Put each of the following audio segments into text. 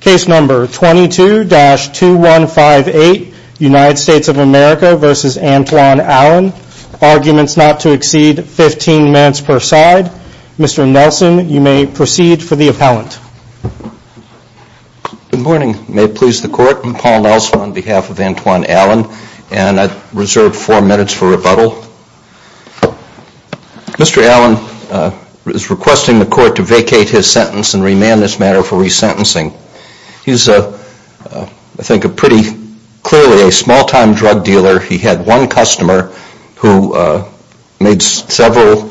Case number 22-2158 United States of America v. Antwaun Allen Arguments not to exceed 15 minutes per side Mr. Nelson, you may proceed for the appellant Good morning. May it please the court, I'm Paul Nelson on behalf of Antwaun Allen and I reserve four minutes for rebuttal Mr. Allen is requesting the court to vacate his sentence and remand this matter for resentencing He's a, I think, a pretty clearly a small time drug dealer He had one customer who made several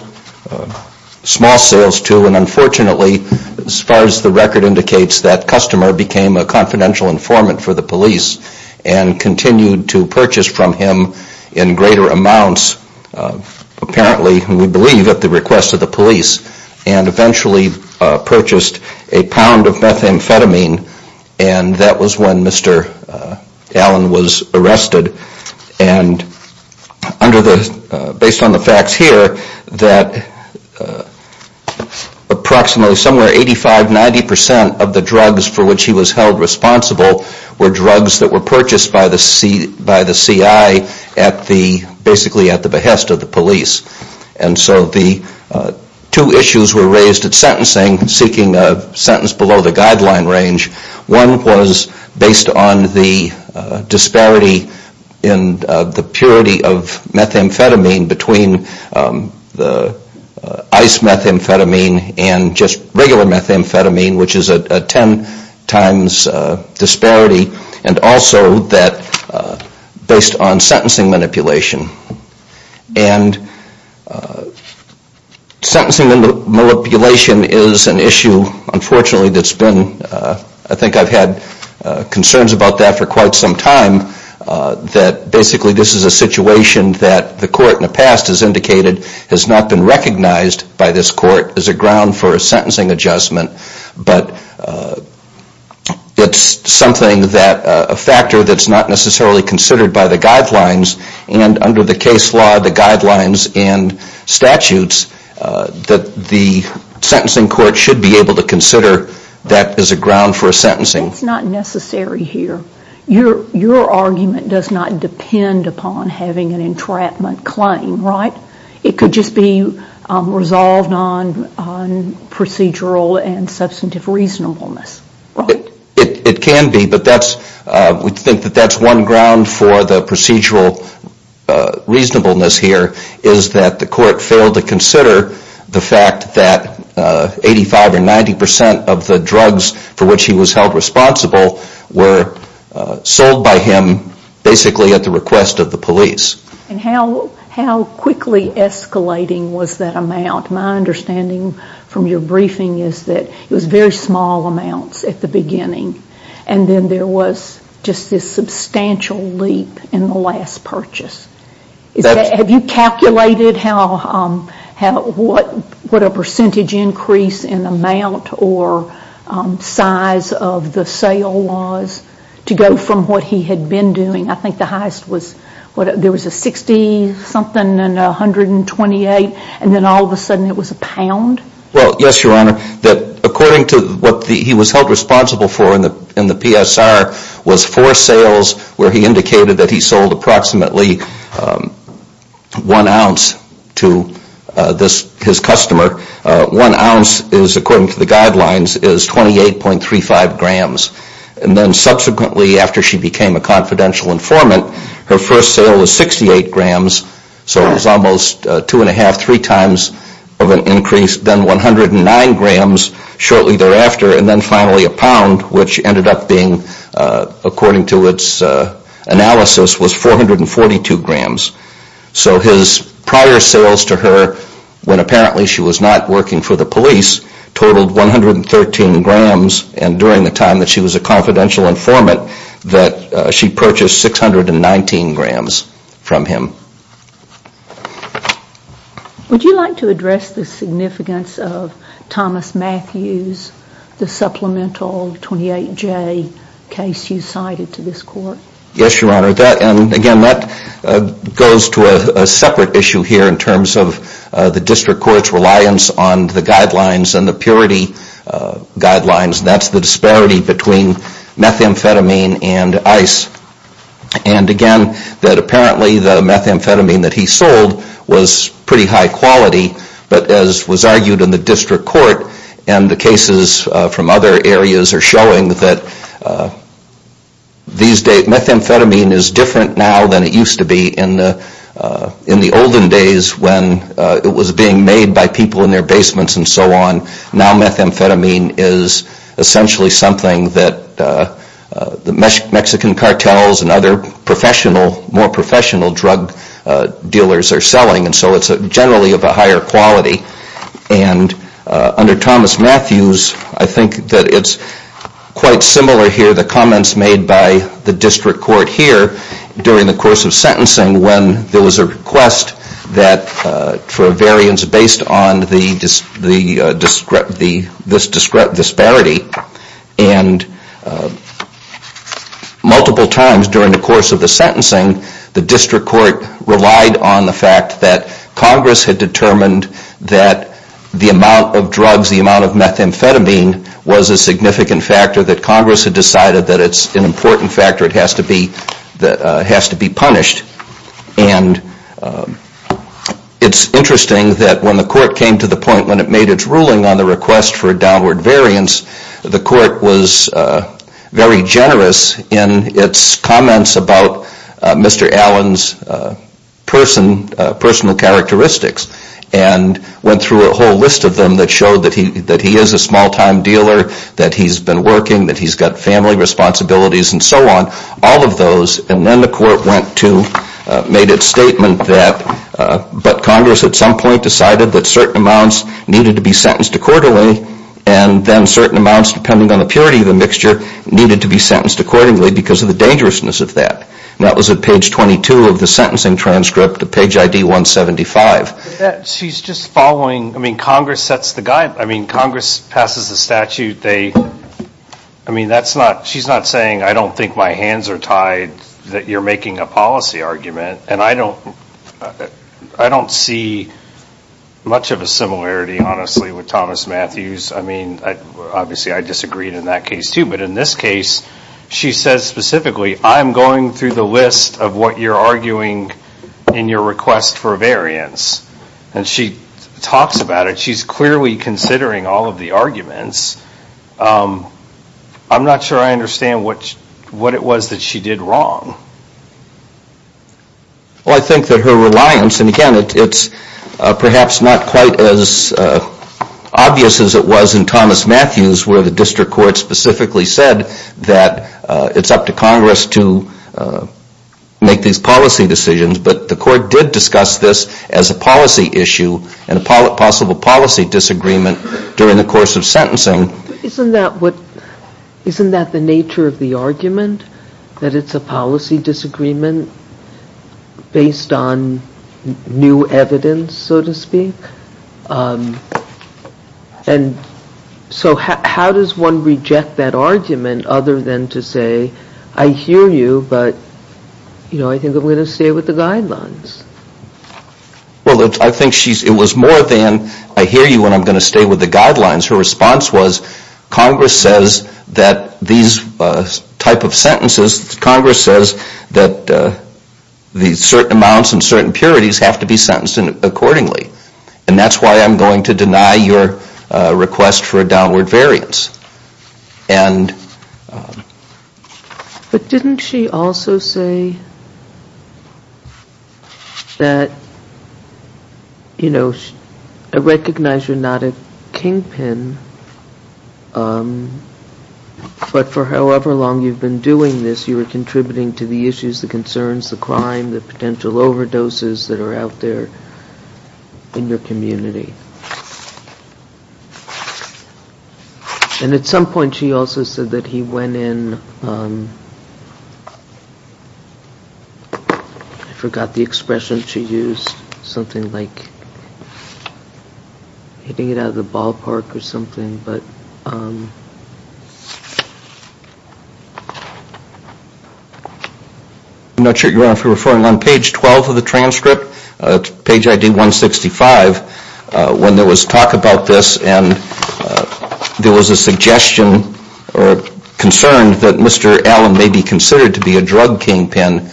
small sales to and unfortunately, as far as the record indicates, that customer became a confidential informant for the police and continued to purchase from him in greater amounts apparently, we believe, at the request of the police and eventually purchased a pound of methamphetamine and that was when Mr. Allen was arrested and under the, based on the facts here that approximately somewhere 85-90% of the drugs for which he was held responsible were drugs that were purchased by the CI at the, basically at the behest of the police and so the two issues were raised at sentencing seeking a sentence below the guideline range One was based on the disparity in the purity of methamphetamine between the ice methamphetamine and just regular methamphetamine which is a 10 times disparity and also that based on sentencing manipulation and sentencing manipulation is an issue unfortunately that's been I think I've had concerns about that for quite some time that basically this is a situation that the court in the past has indicated has not been recognized by this court as a ground for a sentencing adjustment but it's something that, a factor that's not necessarily considered by the guidelines and under the case law, the guidelines and statutes that the sentencing court should be able to consider that as a ground for a sentencing That's not necessary here Your argument does not depend upon having an entrapment claim, right? It could just be resolved on procedural and substantive reasonableness, right? It can be but that's, we think that that's one ground for the procedural reasonableness here is that the court failed to consider the fact that 85 or 90% of the drugs for which he was held responsible were sold by him basically at the request of the police And how quickly escalating was that amount? My understanding from your briefing is that it was very small amounts at the beginning and then there was just this substantial leap in the last purchase Have you calculated what a percentage increase in amount or size of the sale was to go from what he had been doing? I think the highest was, there was a 60 something and 128 and then all of a sudden it was a pound? Well, yes, your honor, that according to what he was held responsible for in the PSR was four sales where he indicated that he sold approximately one ounce to his customer One ounce is, according to the guidelines, is 28.35 grams and then subsequently after she became a confidential informant her first sale was 68 grams, so it was almost two and a half, three times of an increase then 109 grams shortly thereafter and then finally a pound which ended up being, according to its analysis, was 442 grams So his prior sales to her, when apparently she was not working for the police totaled 113 grams and during the time that she was a confidential informant that she purchased 619 grams from him Would you like to address the significance of Thomas Matthews, the supplemental 28J case you cited to this court? Yes, your honor, and again that goes to a separate issue here in terms of the district court's reliance on the guidelines and the purity guidelines that's the disparity between methamphetamine and ice and again that apparently the methamphetamine that he sold was pretty high quality but as was argued in the district court and the cases from other areas are showing that these days methamphetamine is different now than it used to be in the olden days when it was being made by people in their basements and so on now methamphetamine is essentially something that the Mexican cartels and other more professional drug dealers are selling and so it's generally of a higher quality and under Thomas Matthews I think that it's quite similar here to the comments made by the district court here during the course of sentencing when there was a request for a variance based on this disparity and multiple times during the course of the sentencing the district court relied on the fact that Congress had determined that the amount of drugs, the amount of methamphetamine was a significant factor that Congress had decided that it's an important factor that has to be punished and it's interesting that when the court came to the point when it made its ruling on the request for a downward variance the court was very generous in its comments about Mr. Allen's personal characteristics and went through a whole list of them that showed that he is a small time dealer that he's been working, that he's got family responsibilities and so on all of those and then the court went to, made its statement that but Congress at some point decided that certain amounts needed to be sentenced accordingly and then certain amounts depending on the purity of the mixture needed to be sentenced accordingly because of the dangerousness of that and that was at page 22 of the sentencing transcript, page ID 175. She's just following, I mean Congress sets the guide, I mean Congress passes the statute I mean that's not, she's not saying I don't think my hands are tied that you're making a policy argument and I don't see much of a similarity honestly with Thomas Matthews, I mean obviously I disagreed in that case too but in this case she says specifically I'm going through the list of what you're arguing in your request for a variance and she talks about it, she's clearly considering all of the arguments I'm not sure I understand what it was that she did wrong. Well I think that her reliance, and again it's perhaps not quite as obvious as it was in Thomas Matthews where the district court specifically said that it's up to Congress to make these policy decisions but the court did discuss this as a policy issue and a possible policy disagreement during the course of sentencing. Isn't that the nature of the argument? That it's a policy disagreement based on new evidence so to speak? And so how does one reject that argument other than to say I hear you but you know I think I'm going to stay with the guidelines. Well I think it was more than I hear you and I'm going to stay with the guidelines her response was Congress says that these type of sentences, Congress says that these certain amounts and certain purities have to be sentenced accordingly and that's why I'm going to deny your request for a downward variance. But didn't she also say that you know I recognize you're not a kingpin but for however long you've been doing this you are contributing to the issues, the concerns, the crime the potential overdoses that are out there in your community. And at some point she also said that he went in, I forgot the expression she used something like hitting it out of the ballpark or something but I'm not sure if you're referring on page 12 of the transcript, page ID 165 when there was talk about this and there was a suggestion or concern that Mr. Allen may be considered to be a drug kingpin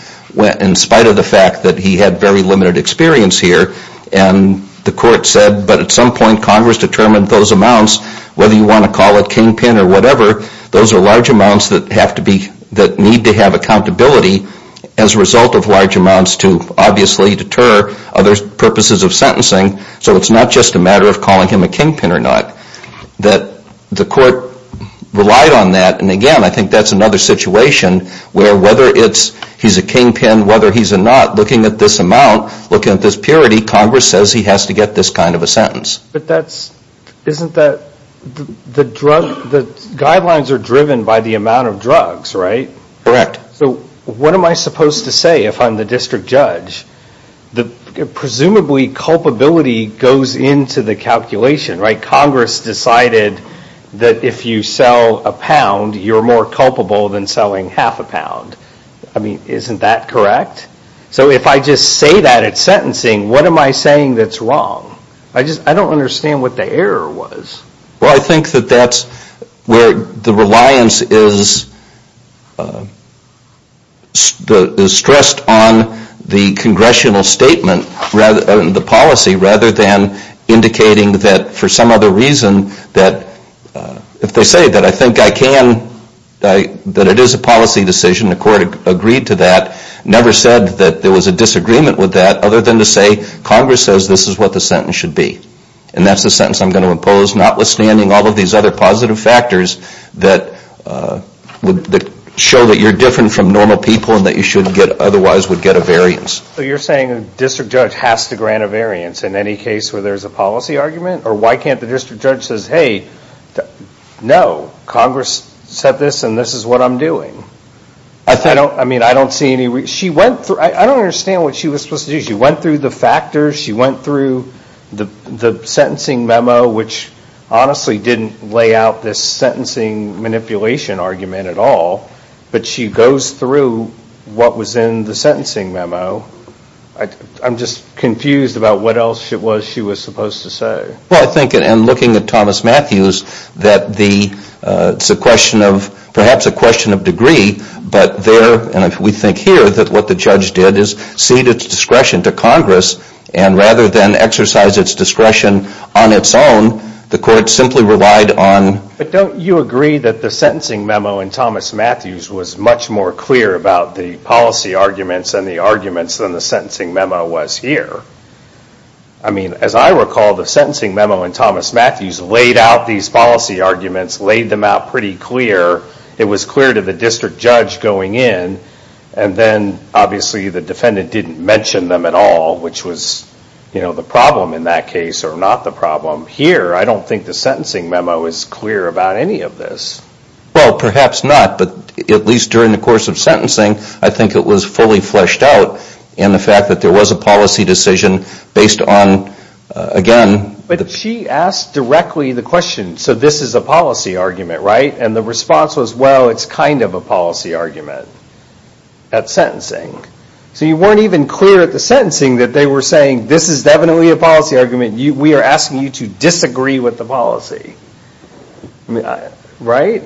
in spite of the fact that he had very limited experience here and the court said but at some point Congress determined those amounts whether you want to call it kingpin or whatever those are large amounts that have to be, that need to have accountability as a result of large amounts to obviously deter other purposes of sentencing so it's not just a matter of calling him a kingpin or not. That the court relied on that and again I think that's another situation where whether it's he's a kingpin, whether he's a not, looking at this amount looking at this purity, Congress says he has to get this kind of a sentence. But that's, isn't that, the drug, the guidelines are driven by the amount of drugs, right? Correct. So what am I supposed to say if I'm the district judge? Presumably culpability goes into the calculation, right? Congress decided that if you sell a pound, you're more culpable than selling half a pound. I mean, isn't that correct? So if I just say that at sentencing, what am I saying that's wrong? I just, I don't understand what the error was. Well, I think that that's where the reliance is stressed on the congressional statement and the policy rather than indicating that for some other reason, that if they say that I think I can, that it is a policy decision, the court agreed to that, never said that there was a disagreement with that other than to say Congress says this is what the sentence should be. And that's the sentence I'm going to impose notwithstanding all of these other positive factors that would show that you're different from normal people and that you should get otherwise would get a variance. So you're saying a district judge has to grant a variance in any case where there's a policy argument? Or why can't the district judge say, hey, no, Congress said this and this is what I'm doing? I mean, I don't see any reason, she went through, I don't understand what she was supposed to do. She went through the factors, she went through the sentencing memo, which honestly didn't lay out this sentencing manipulation argument at all, but she goes through what was in the sentencing memo. I'm just confused about what else it was she was supposed to say. Well, I think in looking at Thomas Matthews that the, it's a question of, perhaps a question of degree, but there, and we think here that what the judge did is cede its discretion to Congress and rather than exercise its discretion on its own, the court simply relied on. But don't you agree that the sentencing memo in Thomas Matthews was much more clear about the policy arguments and the arguments than the sentencing memo was here? I mean, as I recall, the sentencing memo in Thomas Matthews laid out these policy arguments, laid them out pretty clear. It was clear to the district judge going in, and then obviously the defendant didn't mention them at all, which was the problem in that case or not the problem. Here, I don't think the sentencing memo is clear about any of this. Well, perhaps not, but at least during the course of sentencing, I think it was fully fleshed out in the fact that there was a policy decision based on, again. But she asked directly the question, so this is a policy argument, right? And the response was, well, it's kind of a policy argument at sentencing. So you weren't even clear at the sentencing that they were saying this is definitely a policy argument. I mean, we are asking you to disagree with the policy, right?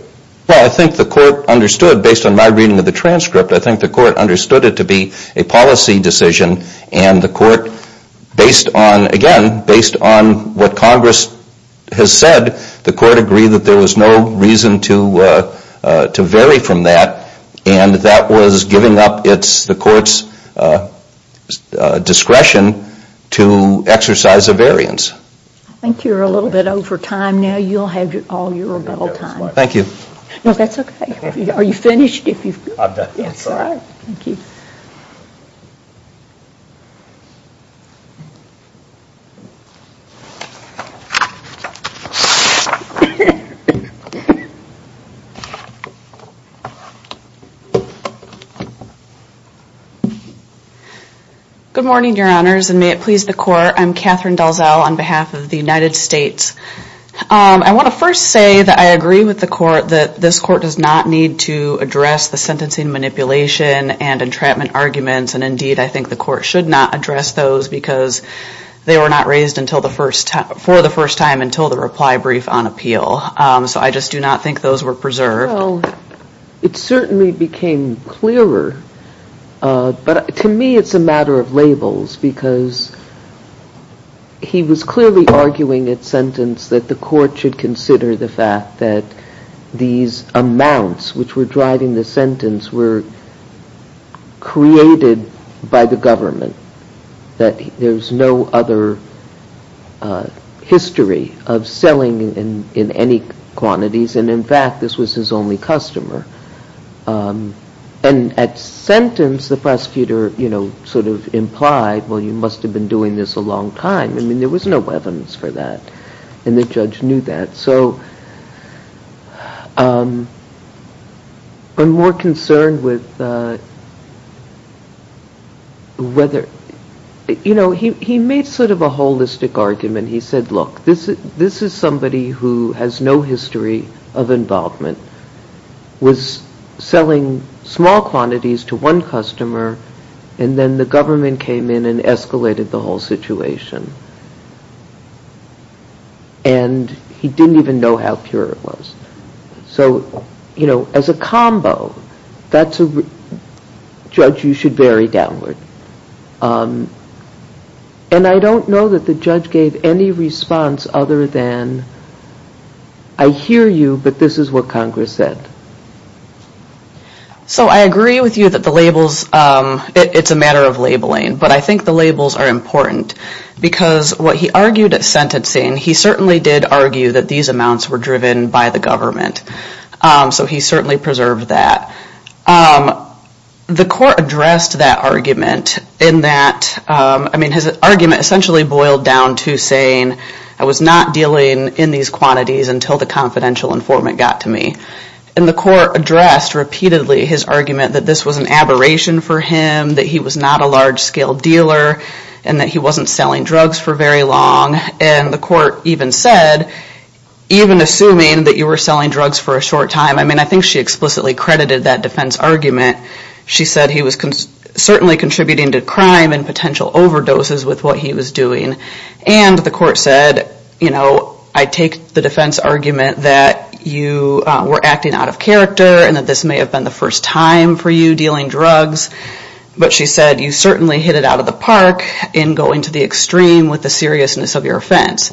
Well, I think the court understood, based on my reading of the transcript, I think the court understood it to be a policy decision and the court, based on, again, based on what Congress has said, the court agreed that there was no reason to vary from that and that was giving up the court's discretion to exercise a variance. I think you're a little bit over time now. You'll have all your rebuttal time. Thank you. No, that's okay. Are you finished? I'm done. Thank you. Good morning, Your Honors, and may it please the court. I'm Catherine Dalzell on behalf of the United States. I want to first say that I agree with the court that this court does not need to address the sentencing manipulation and entrapment arguments, and indeed I think the court should not address those because they were not raised for the first time until the reply brief on appeal. So I just do not think those were preserved. Well, it certainly became clearer, but to me it's a matter of labels because he was clearly arguing at sentence that the court should consider the fact that these amounts which were driving the sentence were created by the government, that there's no other history of selling in any quantities, and in fact this was his only customer. And at sentence the prosecutor sort of implied, well, you must have been doing this a long time. I mean, there was no weapons for that, and the judge knew that. So I'm more concerned with whether, you know, he made sort of a holistic argument. He said, look, this is somebody who has no history of involvement, was selling small quantities to one customer, and then the government came in and escalated the whole situation. And he didn't even know how pure it was. So, you know, as a combo, that's a judge you should bury downward. And I don't know that the judge gave any response other than, I hear you, but this is what Congress said. So I agree with you that the labels, it's a matter of labeling, but I think the labels are important because what he argued at sentencing, he certainly did argue that these amounts were driven by the government. So he certainly preserved that. The court addressed that argument in that, I mean, his argument essentially boiled down to saying, I was not dealing in these quantities until the confidential informant got to me. And the court addressed repeatedly his argument that this was an aberration for him, that he was not a large-scale dealer, and that he wasn't selling drugs for very long. And the court even said, even assuming that you were selling drugs for a short time, I mean, I think she explicitly credited that defense argument. She said he was certainly contributing to crime and potential overdoses with what he was doing. And the court said, you know, I take the defense argument that you were acting out of character and that this may have been the first time for you dealing drugs. But she said, you certainly hit it out of the park in going to the extreme with the seriousness of your offense.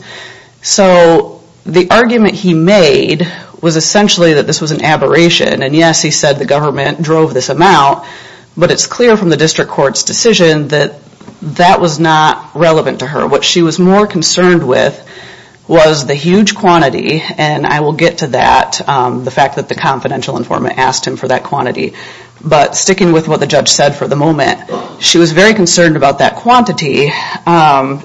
So the argument he made was essentially that this was an aberration. And yes, he said the government drove this amount, but it's clear from the district court's decision that that was not relevant to her. What she was more concerned with was the huge quantity, and I will get to that, the fact that the confidential informant asked him for that quantity. But sticking with what the judge said for the moment, she was very concerned about that quantity.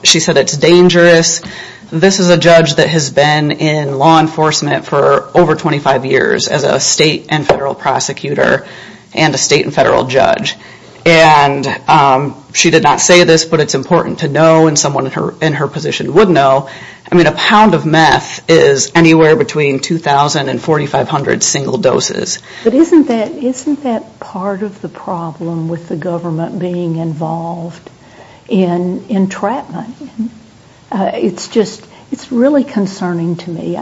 She said it's dangerous. This is a judge that has been in law enforcement for over 25 years as a state and federal prosecutor and a state and federal judge. And she did not say this, but it's important to know and someone in her position would know. I mean, a pound of meth is anywhere between 2,000 and 4,500 single doses. But isn't that part of the problem with the government being involved in entrapment? It's just really concerning to me.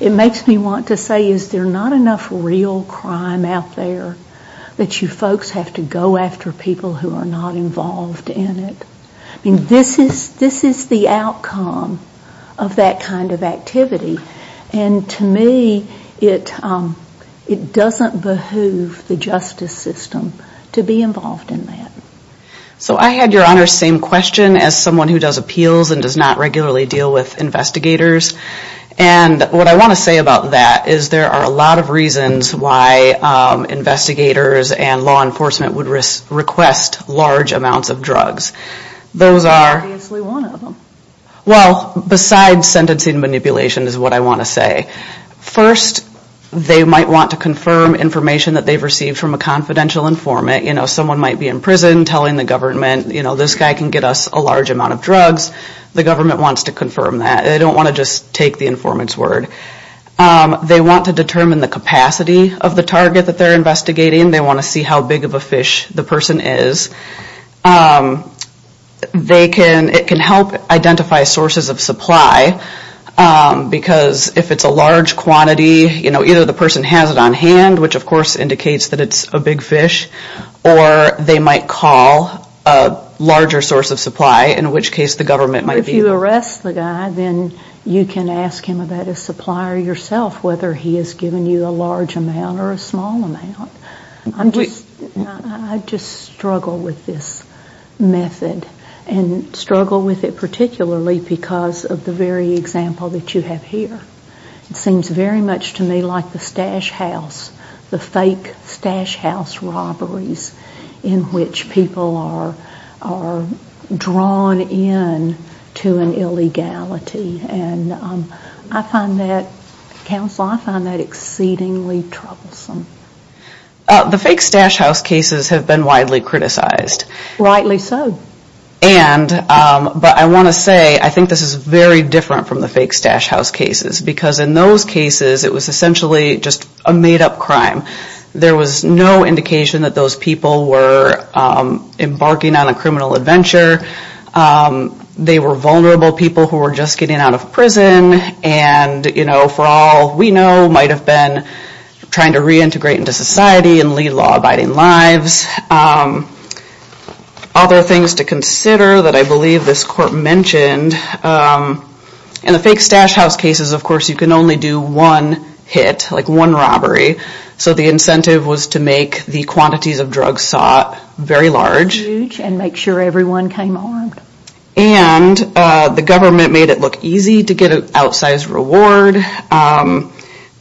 It makes me want to say, is there not enough real crime out there that you folks have to go after people who are not involved in it? I mean, this is the outcome of that kind of activity. And to me, it doesn't behoove the justice system to be involved in that. So I had, Your Honor, the same question as someone who does appeals and does not regularly deal with investigators. And what I want to say about that is there are a lot of reasons why investigators and law enforcement would request large amounts of drugs. Those are... Obviously one of them. Well, besides sentencing manipulation is what I want to say. First, they might want to confirm information that they've received from a confidential informant. You know, someone might be in prison telling the government, you know, this guy can get us a large amount of drugs. The government wants to confirm that. They don't want to just take the informant's word. They want to determine the capacity of the target that they're investigating. They want to see how big of a fish the person is. It can help identify sources of supply because if it's a large quantity, you know, either the person has it on hand, which of course indicates that it's a big fish, or they might call a larger source of supply, in which case the government might be... But if you arrest the guy, then you can ask him about his supplier yourself, whether he has given you a large amount or a small amount. I just struggle with this method and struggle with it particularly because of the very example that you have here. It seems very much to me like the stash house, the fake stash house robberies in which people are drawn in to an illegality. I find that, counsel, I find that exceedingly troublesome. The fake stash house cases have been widely criticized. Rightly so. But I want to say I think this is very different from the fake stash house cases because in those cases it was essentially just a made-up crime. There was no indication that those people were embarking on a criminal adventure. They were vulnerable people who were just getting out of prison and for all we know might have been trying to reintegrate into society and lead law-abiding lives. Other things to consider that I believe this court mentioned, in the fake stash house cases, of course, you can only do one hit, like one robbery. So the incentive was to make the quantities of drugs sought very large. And make sure everyone came armed. And the government made it look easy to get an outsized reward.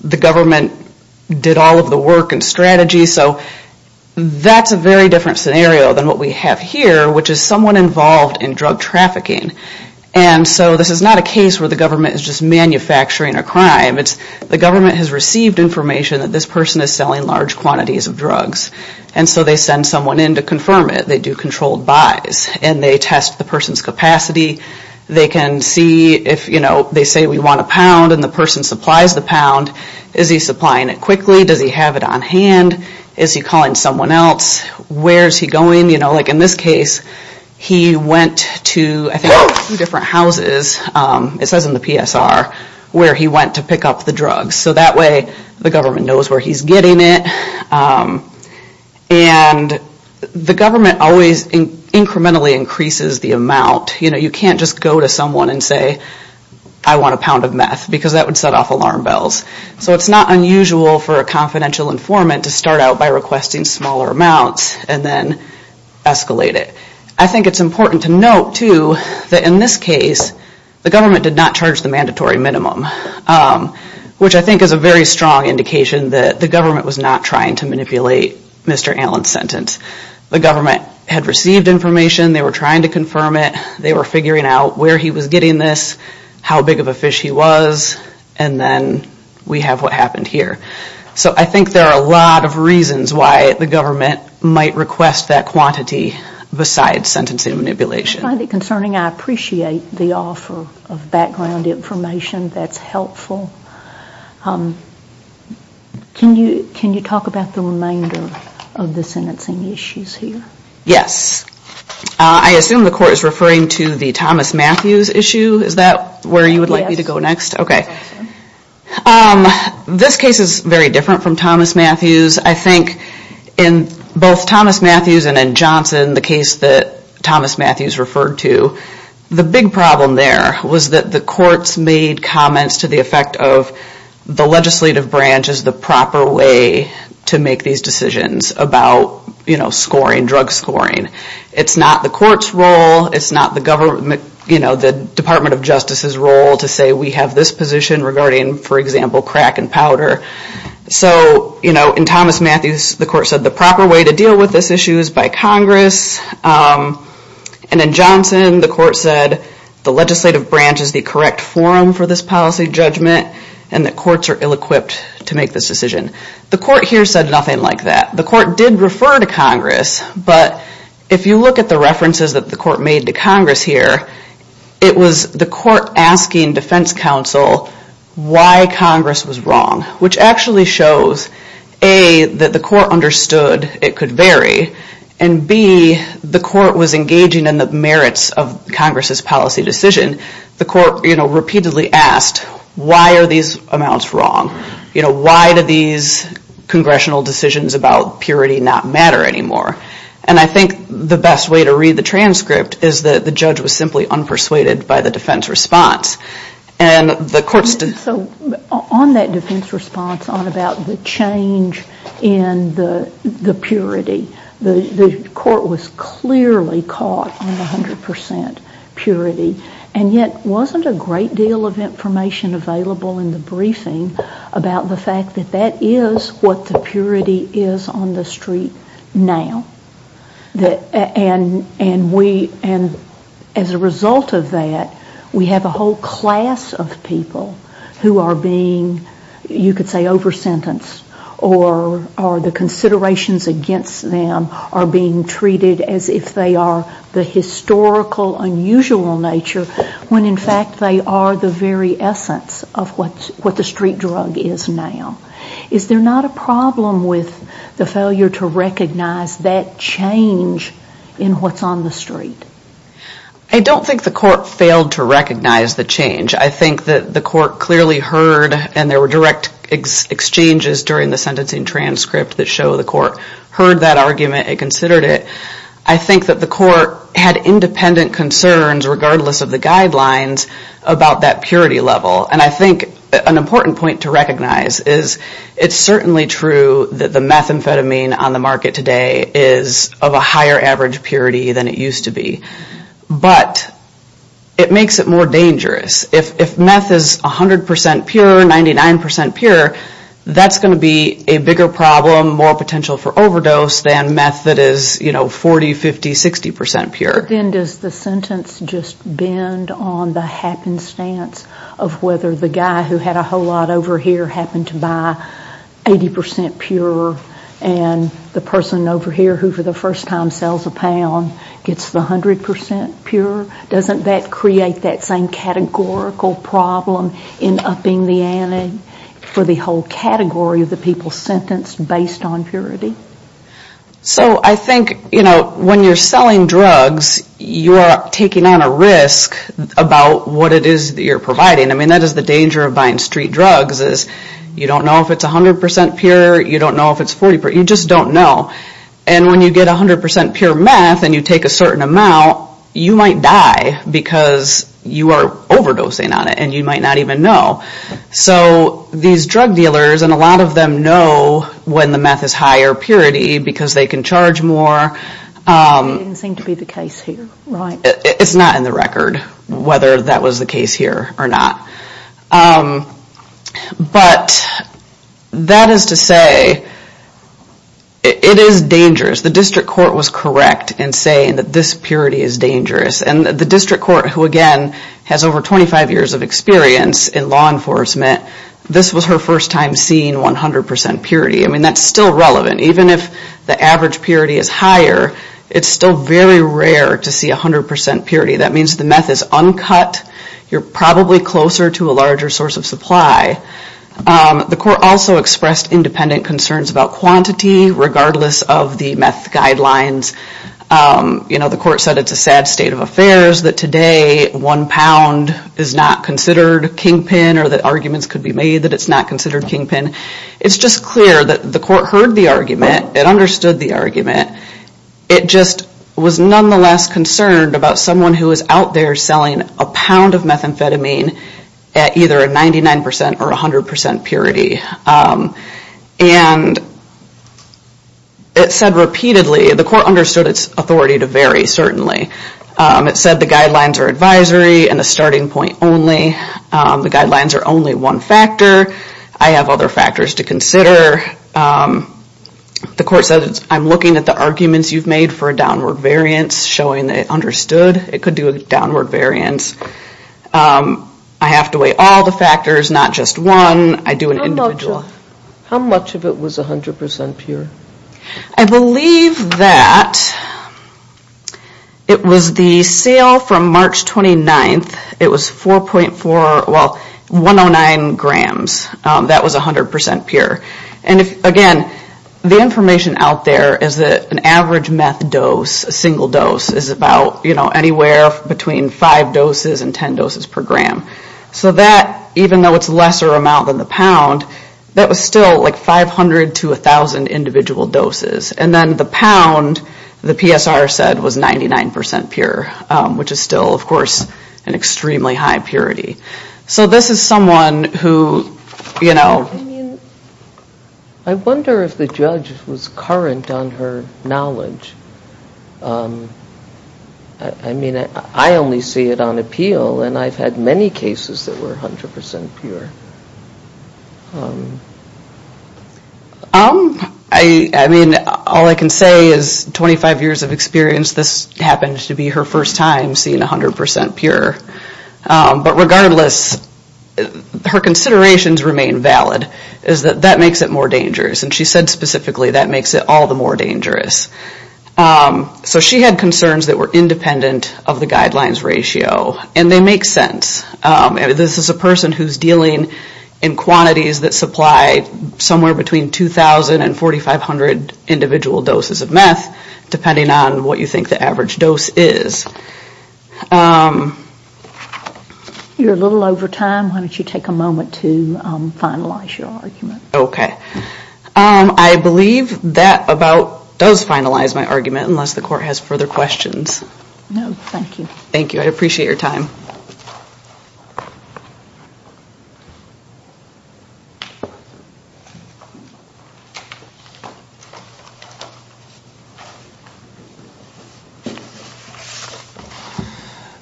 The government did all of the work and strategy. So that's a very different scenario than what we have here, which is someone involved in drug trafficking. And so this is not a case where the government is just manufacturing a crime. The government has received information that this person is selling large quantities of drugs. And so they send someone in to confirm it. They do controlled buys and they test the person's capacity. They can see if, you know, they say we want a pound and the person supplies the pound. Is he supplying it quickly? Does he have it on hand? Is he calling someone else? Where is he going? You know, like in this case, he went to, I think, two different houses. It says in the PSR where he went to pick up the drugs. So that way the government knows where he's getting it. And the government always incrementally increases the amount. You know, you can't just go to someone and say, I want a pound of meth, because that would set off alarm bells. So it's not unusual for a confidential informant to start out by requesting smaller amounts and then escalate it. I think it's important to note, too, that in this case, the government did not charge the mandatory minimum. Which I think is a very strong indication that the government was not trying to manipulate Mr. Allen's sentence. The government had received information. They were trying to confirm it. They were figuring out where he was getting this, how big of a fish he was, and then we have what happened here. So I think there are a lot of reasons why the government might request that quantity besides sentencing manipulation. I find it concerning. I appreciate the offer of background information that's helpful. Can you talk about the remainder of the sentencing issues here? Yes. I assume the court is referring to the Thomas Matthews issue. Is that where you would like me to go next? Yes. Okay. This case is very different from Thomas Matthews. I think in both Thomas Matthews and in Johnson, the case that Thomas Matthews referred to, the big problem there was that the courts made comments to the effect of the legislative branch is the proper way to make these decisions about scoring, drug scoring. It's not the court's role. It's not the Department of Justice's role to say we have this position regarding, for example, crack and powder. So, you know, in Thomas Matthews, the court said the proper way to deal with this issue is by Congress. And in Johnson, the court said the legislative branch is the correct forum for this policy judgment and that courts are ill-equipped to make this decision. The court here said nothing like that. The court did refer to Congress, but if you look at the references that the court made to Congress here, it was the court asking defense counsel why Congress was wrong, which actually shows, A, that the court understood it could vary, and, B, the court was engaging in the merits of Congress's policy decision. The court, you know, repeatedly asked, why are these amounts wrong? You know, why do these congressional decisions about purity not matter anymore? And I think the best way to read the transcript is that the judge was simply unpersuaded by the defense response. And the court said... So on that defense response on about the change in the purity, the court was clearly caught on the 100% purity, and yet wasn't a great deal of information available in the briefing about the fact that that is what the purity is on the street now. And as a result of that, we have a whole class of people who are being, you could say, over-sentenced, or the considerations against them are being treated as if they are the historical, unusual nature, when in fact they are the very essence of what the street drug is now. Is there not a problem with the failure to recognize that change in what's on the street? I don't think the court failed to recognize the change. I think that the court clearly heard, and there were direct exchanges during the sentencing transcript that show the court heard that argument and considered it. I think that the court had independent concerns, regardless of the guidelines, about that purity level. And I think an important point to recognize is it's certainly true that the methamphetamine on the market today is of a higher average purity than it used to be. But it makes it more dangerous. If meth is 100% pure, 99% pure, that's going to be a bigger problem, more potential for overdose than meth that is 40, 50, 60% pure. Then does the sentence just bend on the happenstance of whether the guy who had a whole lot over here happened to buy 80% pure and the person over here who for the first time sells a pound gets the 100% pure? Doesn't that create that same categorical problem in upping the ante for the whole category of the people who are sentenced based on purity? So I think when you're selling drugs, you're taking on a risk about what it is that you're providing. That is the danger of buying street drugs. You don't know if it's 100% pure, you don't know if it's 40%, you just don't know. And when you get 100% pure meth and you take a certain amount, you might die because you are overdosing on it and you might not even know. So these drug dealers, and a lot of them know when the meth is high or purity because they can charge more. It didn't seem to be the case here, right? It's not in the record whether that was the case here or not. But that is to say, it is dangerous. The district court was correct in saying that this purity is dangerous. And the district court, who again has over 25 years of experience in law enforcement, this was her first time seeing 100% purity. I mean, that's still relevant. Even if the average purity is higher, it's still very rare to see 100% purity. That means the meth is uncut. You're probably closer to a larger source of supply. The court also expressed independent concerns about quantity, regardless of the meth guidelines. You know, the court said it's a sad state of affairs that today one pound is not considered kingpin or that arguments could be made that it's not considered kingpin. It's just clear that the court heard the argument. It understood the argument. It just was nonetheless concerned about someone who is out there selling a pound of methamphetamine at either a 99% or 100% purity. And it said repeatedly, the court understood its authority to vary, certainly. It said the guidelines are advisory and a starting point only. The guidelines are only one factor. I have other factors to consider. The court said, I'm looking at the arguments you've made for a downward variance, showing that it understood it could do a downward variance. I have to weigh all the factors, not just one. I do an individual. How much of it was 100% pure? I believe that it was the sale from March 29th. It was 4.4, well, 109 grams. That was 100% pure. And again, the information out there is that an average meth dose, a single dose, is about anywhere between 5 doses and 10 doses per gram. So that, even though it's a lesser amount than the pound, that was still like 500 to 1,000 individual doses. And then the pound, the PSR said, was 99% pure, which is still, of course, an extremely high purity. So this is someone who, you know. I mean, I wonder if the judge was current on her knowledge. I mean, I only see it on appeal, and I've had many cases that were 100% pure. I mean, all I can say is 25 years of experience, this happens to be her first time seeing 100% pure. But regardless, her considerations remain valid, is that that makes it more dangerous. And she said specifically, that makes it all the more dangerous. So she had concerns that were independent of the guidelines ratio. And they make sense. This is a person who's dealing in quantities that supply somewhere between 2,000 and 4,500 individual doses of meth, depending on what you think the average dose is. You're a little over time. Why don't you take a moment to finalize your argument? Okay. I believe that about does finalize my argument, unless the court has further questions. No, thank you. Thank you. I appreciate your time.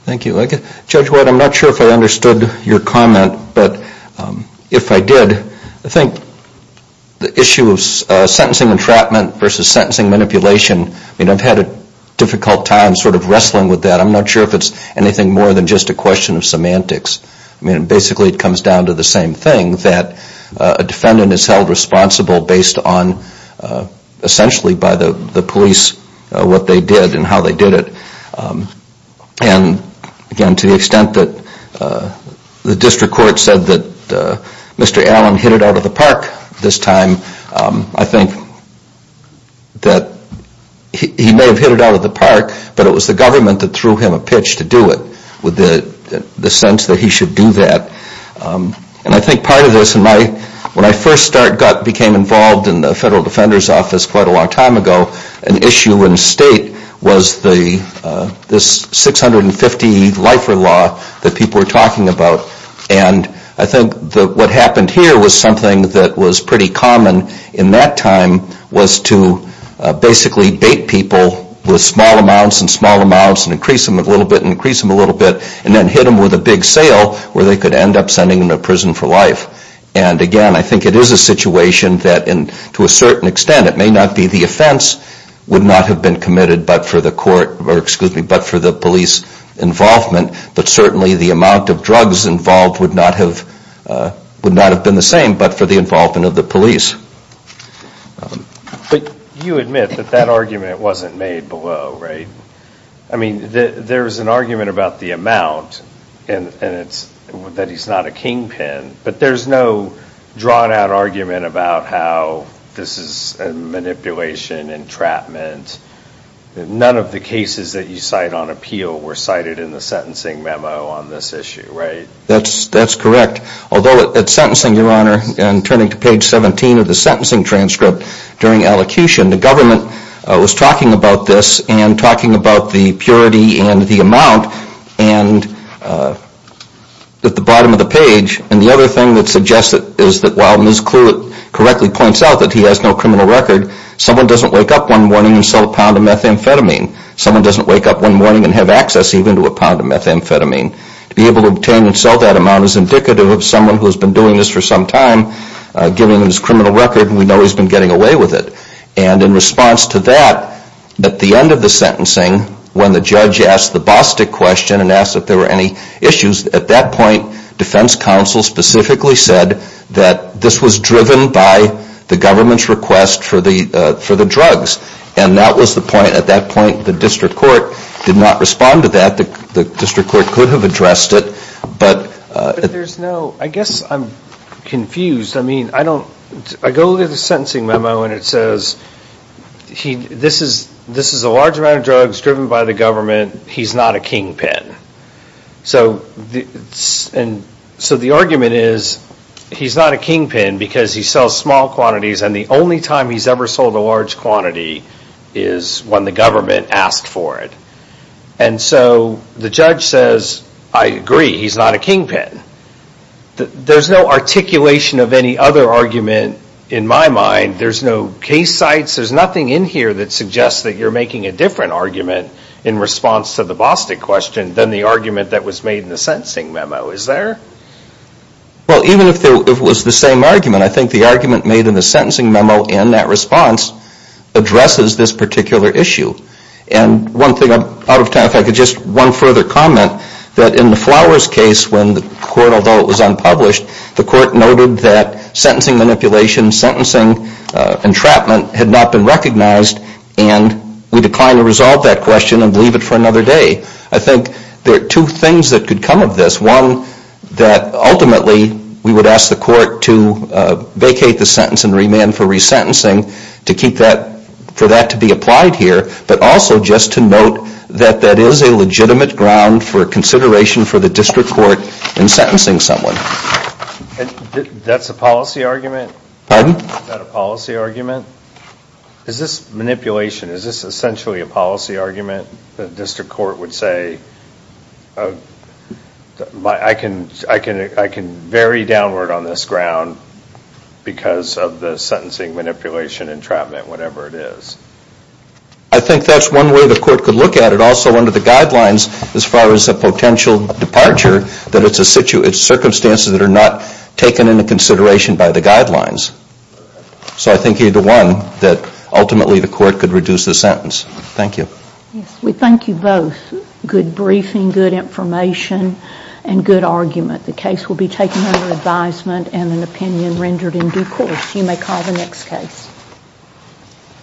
Thank you. Judge White, I'm not sure if I understood your comment. But if I did, I think the issue of sentencing entrapment versus sentencing manipulation, I mean, I've had a difficult time sort of wrestling with that. I'm not sure if it's anything more than just a question of semantics. I mean, basically it comes down to the same thing, that a defendant is held responsible based on, essentially by the police, what they did and how they did it. And, again, to the extent that the district court said that Mr. Allen hit it out of the park this time, I think that he may have hit it out of the park, but it was the government that threw him a pitch to do it with the sense that he should do that. And I think part of this, when I first became involved in the Federal Defender's Office quite a long time ago, an issue in the state was this 650 lifer law that people were talking about. And I think that what happened here was something that was pretty common in that time, was to basically bait people with small amounts and small amounts and increase them a little bit and increase them a little bit and then hit them with a big sale where they could end up sending them to prison for life. And, again, I think it is a situation that, to a certain extent, and it may not be the offense, would not have been committed but for the police involvement, but certainly the amount of drugs involved would not have been the same but for the involvement of the police. But you admit that that argument wasn't made below, right? I mean, there is an argument about the amount and that he's not a kingpin, but there's no drawn-out argument about how this is a manipulation, entrapment. None of the cases that you cite on appeal were cited in the sentencing memo on this issue, right? That's correct. Although at sentencing, Your Honor, and turning to page 17 of the sentencing transcript during elocution, the government was talking about this and talking about the purity and the amount and at the bottom of the page, and the other thing that suggests it is that while Ms. Kluwet correctly points out that he has no criminal record, someone doesn't wake up one morning and sell a pound of methamphetamine. Someone doesn't wake up one morning and have access even to a pound of methamphetamine. To be able to obtain and sell that amount is indicative of someone who has been doing this for some time, giving his criminal record, and we know he's been getting away with it. And in response to that, at the end of the sentencing, when the judge asked the Bostick question and asked if there were any issues, at that point, defense counsel specifically said that this was driven by the government's request for the drugs. And that was the point, at that point, the district court did not respond to that. The district court could have addressed it. I guess I'm confused. I go to the sentencing memo and it says this is a large amount of drugs driven by the government. He's not a kingpin. So the argument is he's not a kingpin because he sells small quantities and the only time he's ever sold a large quantity is when the government asked for it. And so the judge says, I agree, he's not a kingpin. There's no articulation of any other argument in my mind. There's no case sites, there's nothing in here that suggests that you're making a different argument in response to the Bostick question than the argument that was made in the sentencing memo. Is there? Well, even if it was the same argument, I think the argument made in the sentencing memo in that response addresses this particular issue. And one thing, if I could just one further comment, that in the Flowers case, when the court, although it was unpublished, the court noted that sentencing manipulation, sentencing entrapment had not been recognized and we decline to resolve that question and leave it for another day. I think there are two things that could come of this. One, that ultimately we would ask the court to vacate the sentence and remand for resentencing to keep that, for that to be applied here but also just to note that that is a legitimate ground for consideration for the district court in sentencing someone. That's a policy argument? Pardon? Is that a policy argument? Is this manipulation, is this essentially a policy argument that the district court would say I can vary downward on this ground because of the sentencing manipulation entrapment, whatever it is? I think that's one way the court could look at it. And also under the guidelines, as far as a potential departure that it's circumstances that are not taken into consideration by the guidelines. So I think either one, that ultimately the court could reduce the sentence. Thank you. We thank you both. Good briefing, good information and good argument. The case will be taken under advisement and an opinion rendered in due course. You may call the next case.